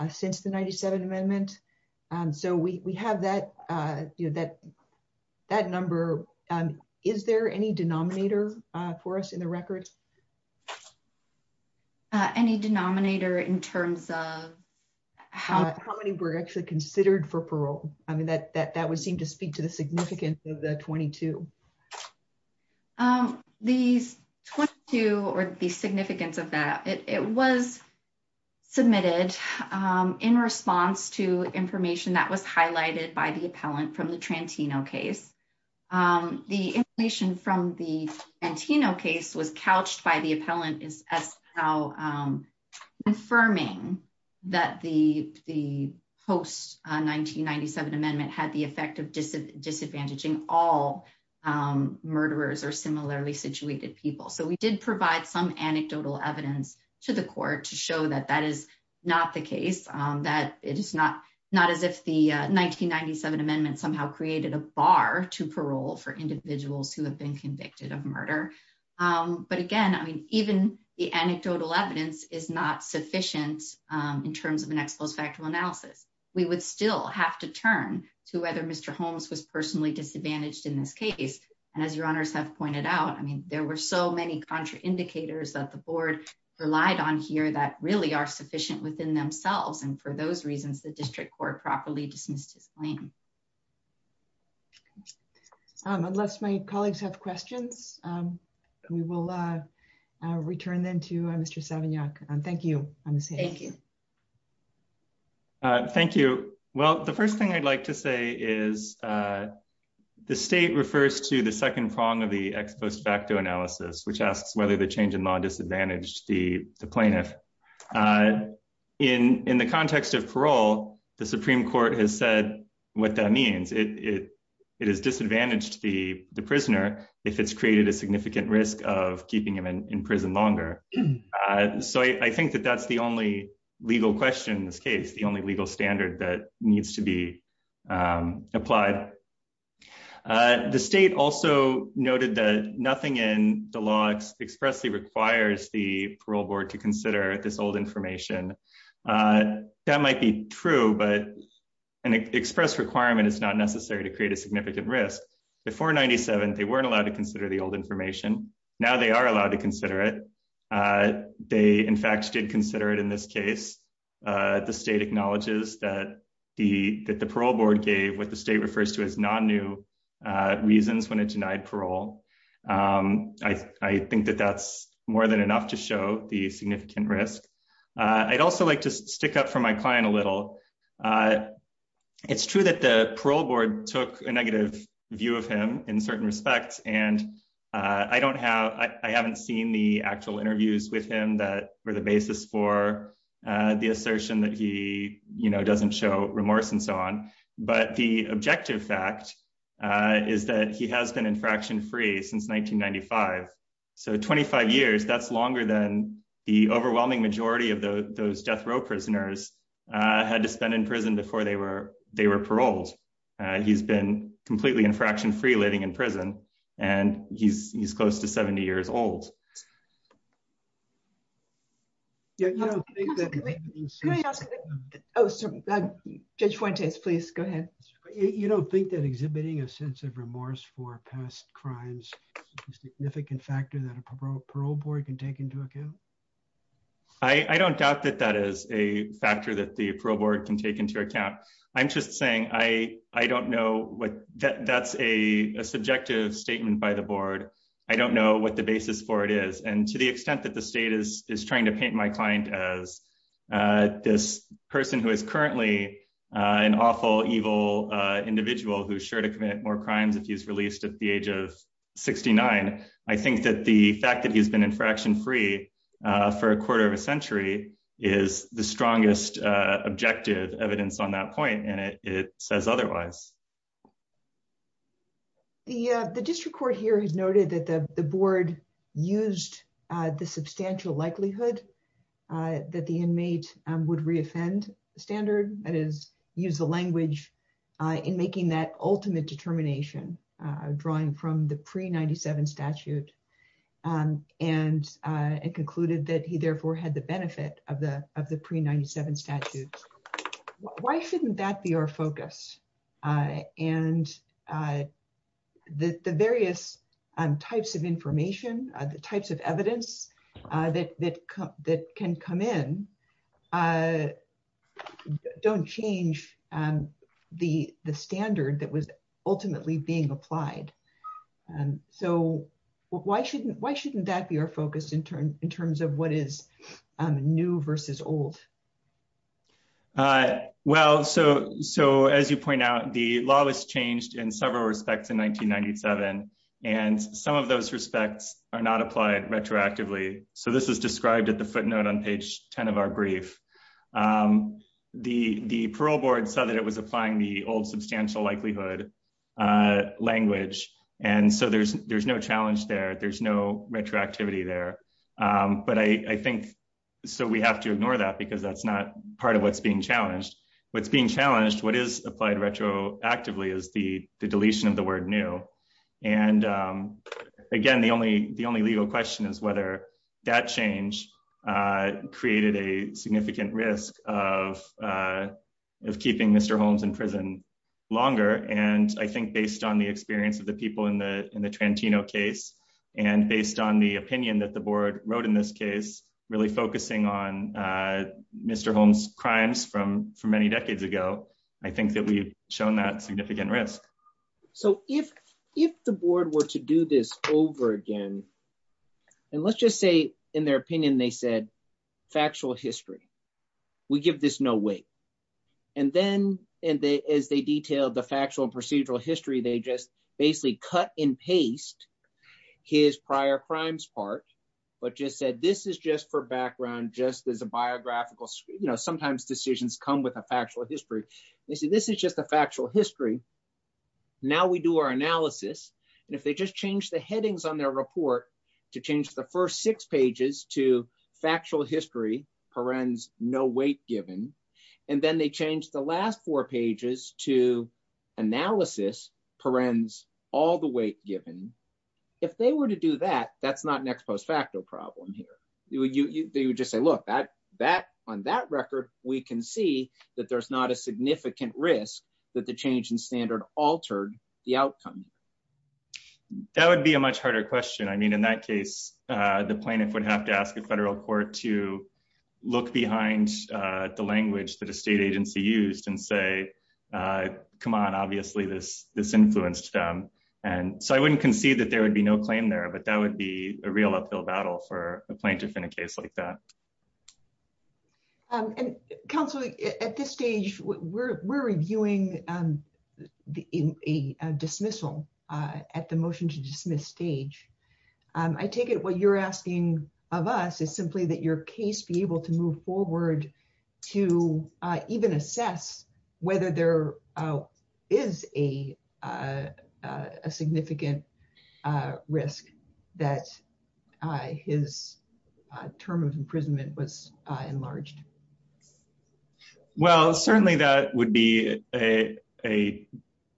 since the 97th amendment. So, we have that number. Is there any denominator for us in the record? Any denominator in terms of how many were actually considered for parole? I mean, that would seem to speak to the significance of the 22. These 22 or the significance of that, it was submitted in response to information that was highlighted by the appellant from the Trantino case. The information from the Trantino case was couched by the appellant as confirming that the post-1997 amendment had the effect of disadvantaging all murderers or similarly situated people. So, we did provide some anecdotal evidence to the court to show that that is not the case, that it is not as if the 1997 amendment somehow created a bar to parole for individuals who have been convicted of murder. But again, I mean, even the anecdotal evidence is not sufficient in terms of an ex post facto analysis. We would still have to turn to whether Mr. Holmes was personally disadvantaged in this case. And as your honors have pointed out, I mean, there were so many contraindicators that the board relied on here that really are sufficient within themselves. And for those reasons, the district court properly dismissed his claim. Unless my colleagues have questions, we will return then to Mr. Savignac. Thank you. Thank you. Thank you. Well, the first thing I'd like to say is the state refers to the second prong of the ex post facto analysis, which asks whether the change in law disadvantaged the plaintiff. In the context of parole, the Supreme Court has said what that means. It has disadvantaged the prisoner if it's created a significant risk of keeping him in prison longer. So I think that that's the only legal question in this case, the only legal standard that needs to be applied. The state also noted that nothing in the law expressly requires the parole board to consider this old information. That might be true, but an express requirement is not necessary to before 97. They weren't allowed to consider the old information. Now they are allowed to consider it. They, in fact, did consider it in this case. The state acknowledges that the parole board gave what the state refers to as non new reasons when it denied parole. I think that that's more than enough to show the significant risk. I'd also like to stick up for my client a little. It's true that the parole board took a negative view of him in certain respects, and I haven't seen the actual interviews with him that were the basis for the assertion that he doesn't show remorse and so on. But the objective fact is that he has been infraction free since 1995. So 25 years, that's longer than the overwhelming majority of those death row prisoners had to spend in prison before they were paroled. He's been completely infraction free living in prison, and he's close to 70 years old. Judge Fuentes, please go ahead. You don't think that exhibiting a sense of remorse for past crimes is a significant factor that a parole board can take into account? I don't doubt that that is a factor that the parole board can take into account. I'm just saying I don't know what that's a subjective statement by the board. I don't know what the basis for it is. And to the extent that the state is trying to paint my client as this person who is currently an awful evil individual who's sure to commit more crimes if he's released at the age of 69, I think that the fact that he's been infraction free for a quarter of a century is the strongest objective evidence on that point, and it says otherwise. The district court here has noted that the board used the substantial likelihood that the inmate would reoffend standard, that is, use the language in making that pre-97 statute, and concluded that he therefore had the benefit of the pre-97 statute. Why shouldn't that be our focus? And the various types of information, the types of evidence that can come in don't change the standard that was ultimately being applied. So why shouldn't that be our focus in terms of what is new versus old? Well, so as you point out, the law was changed in several respects in 1997, and some of those respects are not applied retroactively. So this is described at the footnote on page 10 of our brief. The parole board said that it was applying the old substantial likelihood language, and so there's no challenge there, there's no retroactivity there. But I think, so we have to ignore that because that's not part of what's being challenged. What's being challenged, what is applied retroactively is the deletion of the word new. And again, the only legal question is whether that change created a significant risk of keeping Mr. Holmes in prison longer. And I think based on the experience of the people in the Trantino case, and based on the opinion that the board wrote in this case, really focusing on Mr. Holmes' crimes from many decades ago, I think that we've shown that significant risk. So if the board were to do this over again, and let's just say in their opinion, they said, factual history, we give this no weight. And then, and as they detailed the factual and procedural history, they just basically cut and paste his prior crimes part, but just said, this is just for background, just as a biographical, you know, sometimes decisions come with a factual history. They say, this is just a factual history. Now we do our analysis, and if they just change the headings on their report to change the first six pages to factual history, parens, no weight given, and then they change the last four pages to analysis, parens, all the weight given, if they were to do that, that's not an ex post facto problem here. They would just say, look, on that record, we can see that there's not a significant risk that the change in standard altered the outcome. That would be a much harder question. I mean, in that case, the plaintiff would have to ask a federal court to look behind the language that a state agency used and say, come on, obviously, this, this influenced them. And so I wouldn't concede that there would be no claim there. But that would be a real uphill battle for a plaintiff in a case like that. And counsel, at this stage, we're reviewing the dismissal at the motion to dismiss stage. I take it what you're asking of us is simply that your case be able to move forward to even assess whether there is a significant risk that his term of imprisonment was enlarged? Well, certainly, that would be a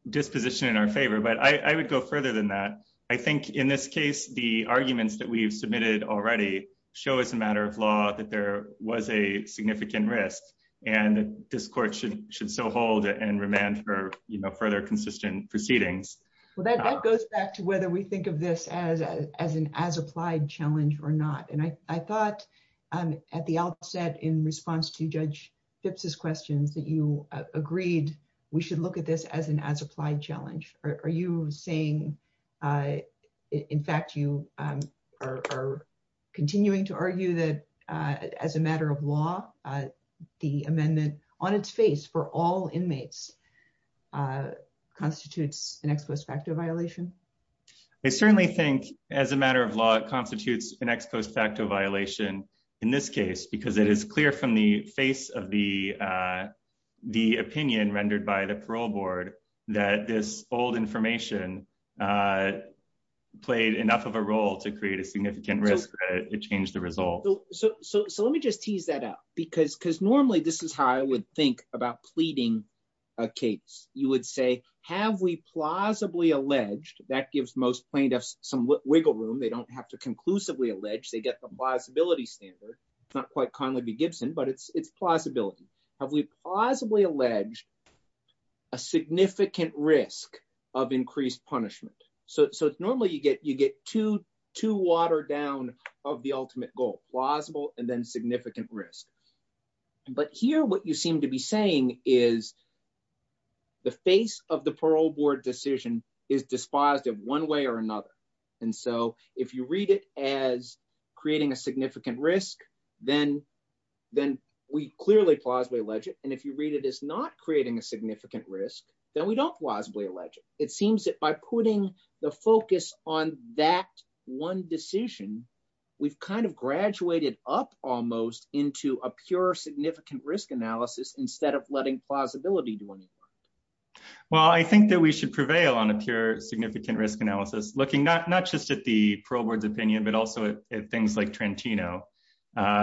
disposition in our favor. But I would go further than that. I think in this case, the arguments that we've submitted already show as a matter of law that there was a significant risk. And this court should should so hold and remand for, you know, further consistent proceedings. Well, that goes back to whether we think of this as, as an as applied challenge or not. And I thought, at the outset, in response to Judge Phipps's questions that you agreed, we should look at this as an as applied challenge. Are you saying, in fact, you are continuing to argue that as a matter of law, the amendment on its face for all inmates constitutes an ex post facto violation? I certainly think as a matter of law, it constitutes an ex post facto violation in this case, because it is clear from the face of the the opinion rendered by the parole board, that this old information played enough of a role to create a significant risk. It changed the So, so let me just tease that out. Because because normally, this is how I would think about pleading a case, you would say, have we plausibly alleged that gives most plaintiffs some wiggle room, they don't have to conclusively allege they get the plausibility standard, it's not quite Conley v. Gibson, but it's it's plausibility. Have we possibly alleged a significant risk of increased punishment. So normally, you get you get to to water down of the ultimate goal, plausible and then significant risk. But here, what you seem to be saying is the face of the parole board decision is despised in one way or another. And so if you read it as creating a significant risk, then, then we clearly plausibly alleged and if you read it is not creating a significant risk, then we don't plausibly alleged it seems that by putting the focus on that one decision, we've kind of graduated up almost into a pure significant risk analysis instead of letting plausibility do anything. Well, I think that we should prevail on a pure significant risk analysis looking not not just at the parole board's opinion, but also at things like Trentino,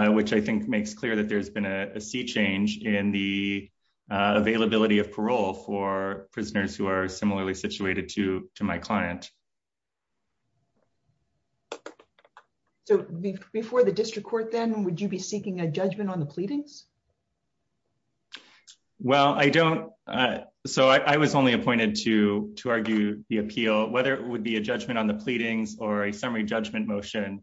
which I think makes clear that there's been a sea change in the availability of parole for prisoners who are similarly situated to my client. So before the district court, then would you be seeking a judgment on the pleadings? Well, I don't. So I was only appointed to to argue the appeal, whether it would be a judgment on the pleadings or a summary judgment motion.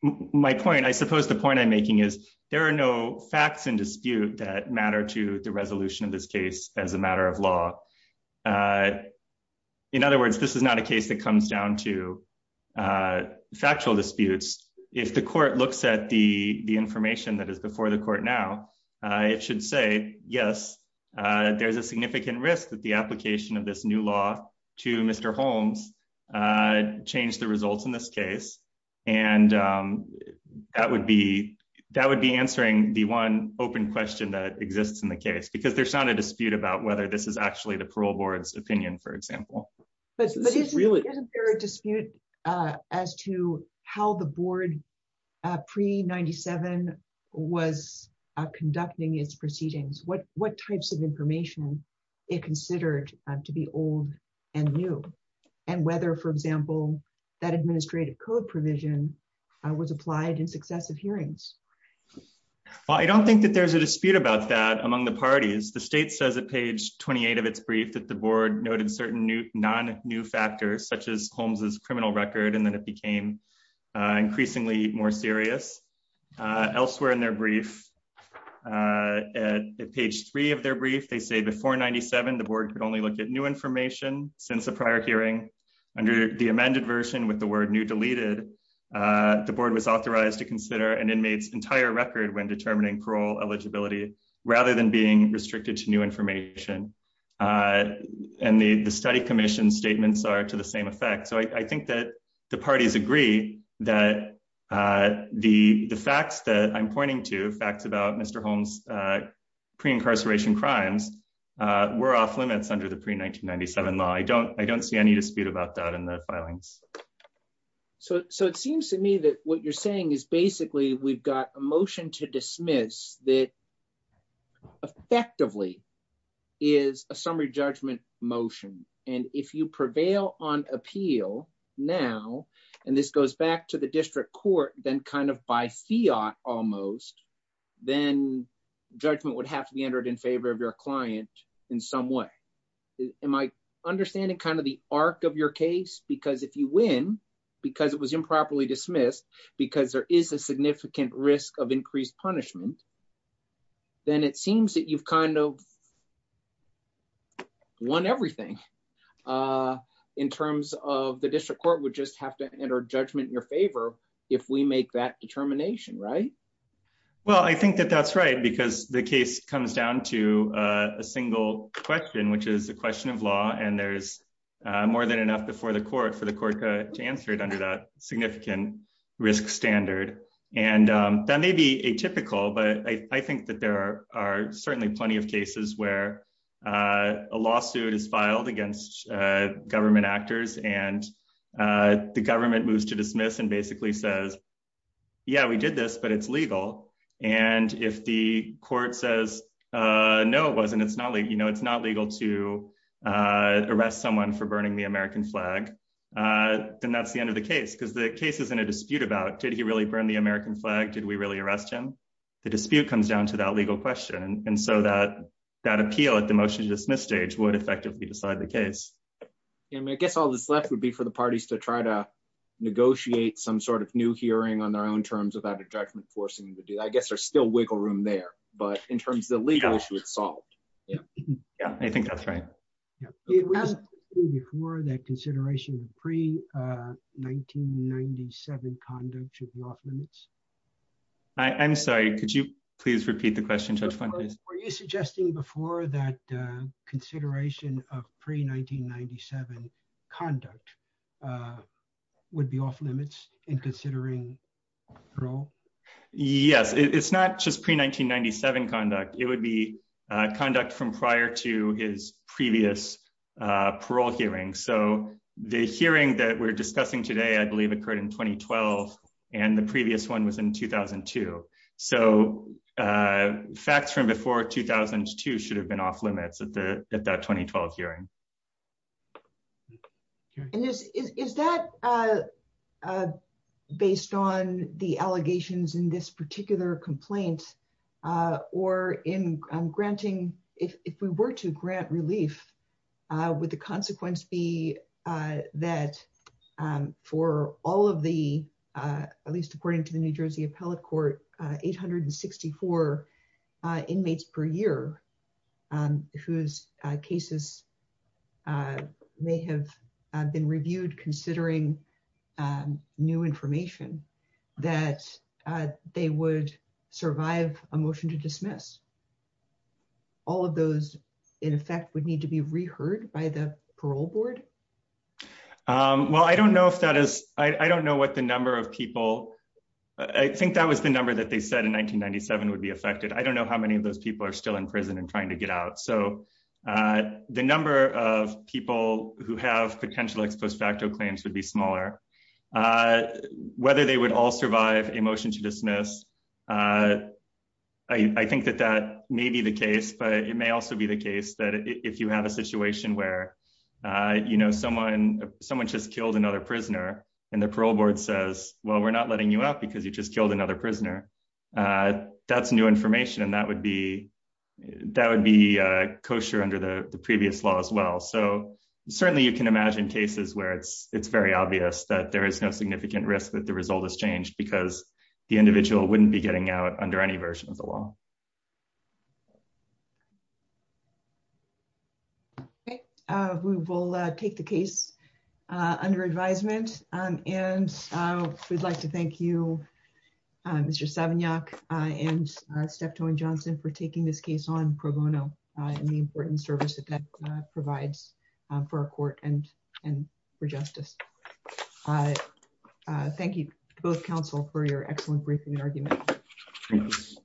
My point, I suppose the point I'm making is there are no facts in dispute that matter to the resolution of this case as a matter of law. In other words, this is not a case that comes down to factual disputes. If the court looks at the the information that is before the court now, it should say, yes, there's a significant risk that the application of this new law to Mr. Holmes changed the results in this case. And that would be that would be answering the one open question that exists in the case, because there's not a dispute about whether this is actually the parole board's opinion, for example. But isn't there a dispute as to how the board pre-97 was conducting its proceedings? What what types of information it considered to be old and new and whether, for example, that administrative code provision was applied in successive hearings? I don't think that there's a dispute about that among the parties. The state says at page 28 of its brief that the board noted certain new non new factors, such as Holmes's criminal record, and then it became increasingly more serious. Elsewhere in their brief at page three of their brief, they say before 97, the board could only look at new information since the prior hearing under the amended version with the word new deleted. The board was authorized to consider an inmate's entire record when determining parole eligibility rather than being restricted to new information. And the study commission statements are to the same effect. So I think that the parties agree that the the facts that I'm pointing to facts about Mr. Holmes pre-incarceration crimes were off limits under the pre-1997 law. I don't I don't see any dispute about that in the filings. So so it seems to me that what you're saying is basically we've got a motion to dismiss that effectively is a summary judgment motion. And if you prevail on appeal now, and this goes back to the district court, then kind of by fiat almost, then judgment would have to be entered in favor of your client in some way. Am I understanding kind of the arc of your case? Because if you win, because it was improperly dismissed, because there is a significant risk of increased punishment, then it seems that you've kind of won everything in terms of the district court would just have to enter judgment in your favor if we make that determination, right? Well, I think that that's right, because the case comes down to a single question, which is a question of law. And there's more than enough before the risk standard. And that may be atypical, but I think that there are certainly plenty of cases where a lawsuit is filed against government actors and the government moves to dismiss and basically says, yeah, we did this, but it's legal. And if the court says, no, it wasn't, it's not like, you know, it's not legal to arrest someone for burning the American flag, then that's the end of the case, because the case is in a dispute about did he really burn the American flag? Did we really arrest him? The dispute comes down to that legal question. And so that appeal at the motion to dismiss stage would effectively decide the case. I guess all this left would be for the parties to try to negotiate some sort of new hearing on their own terms without a judgment forcing them to do that. I guess there's still wiggle room there, but in terms of the legal issue, it's solved. Yeah, I think that's right. It was before that consideration of pre-1997 conduct should be off-limits. I'm sorry, could you please repeat the question, Judge Fuentes? Were you suggesting before that consideration of pre-1997 conduct would be off-limits in considering parole? Yes, it's not just pre-1997 conduct. It would be parole hearings. So the hearing that we're discussing today, I believe, occurred in 2012, and the previous one was in 2002. So facts from before 2002 should have been off-limits at that 2012 hearing. And is that based on the allegations in this particular complaint, or if we were to would the consequence be that for all of the, at least according to the New Jersey Appellate Court, 864 inmates per year whose cases may have been reviewed considering new information, that they would survive a motion to dismiss? All of those, in effect, would need to be re-heard by the parole board? Well, I don't know if that is, I don't know what the number of people, I think that was the number that they said in 1997 would be affected. I don't know how many of those people are still in prison and trying to get out. So the number of people who have potential ex post facto claims would be smaller. Whether they would all survive a motion to dismiss, I think that that may be the case, but it may also be the case that if you have a situation where someone just killed another prisoner, and the parole board says, well, we're not letting you out because you just killed another prisoner, that's new information, and that would be kosher under the previous law as well. So certainly you can imagine cases where it's very obvious that there is no significant risk that the result has changed because the individual wouldn't be getting out under any version of the law. Okay, we will take the case under advisement, and we'd like to provide for our court and, and for justice. Thank you both counsel for your excellent briefing and argument.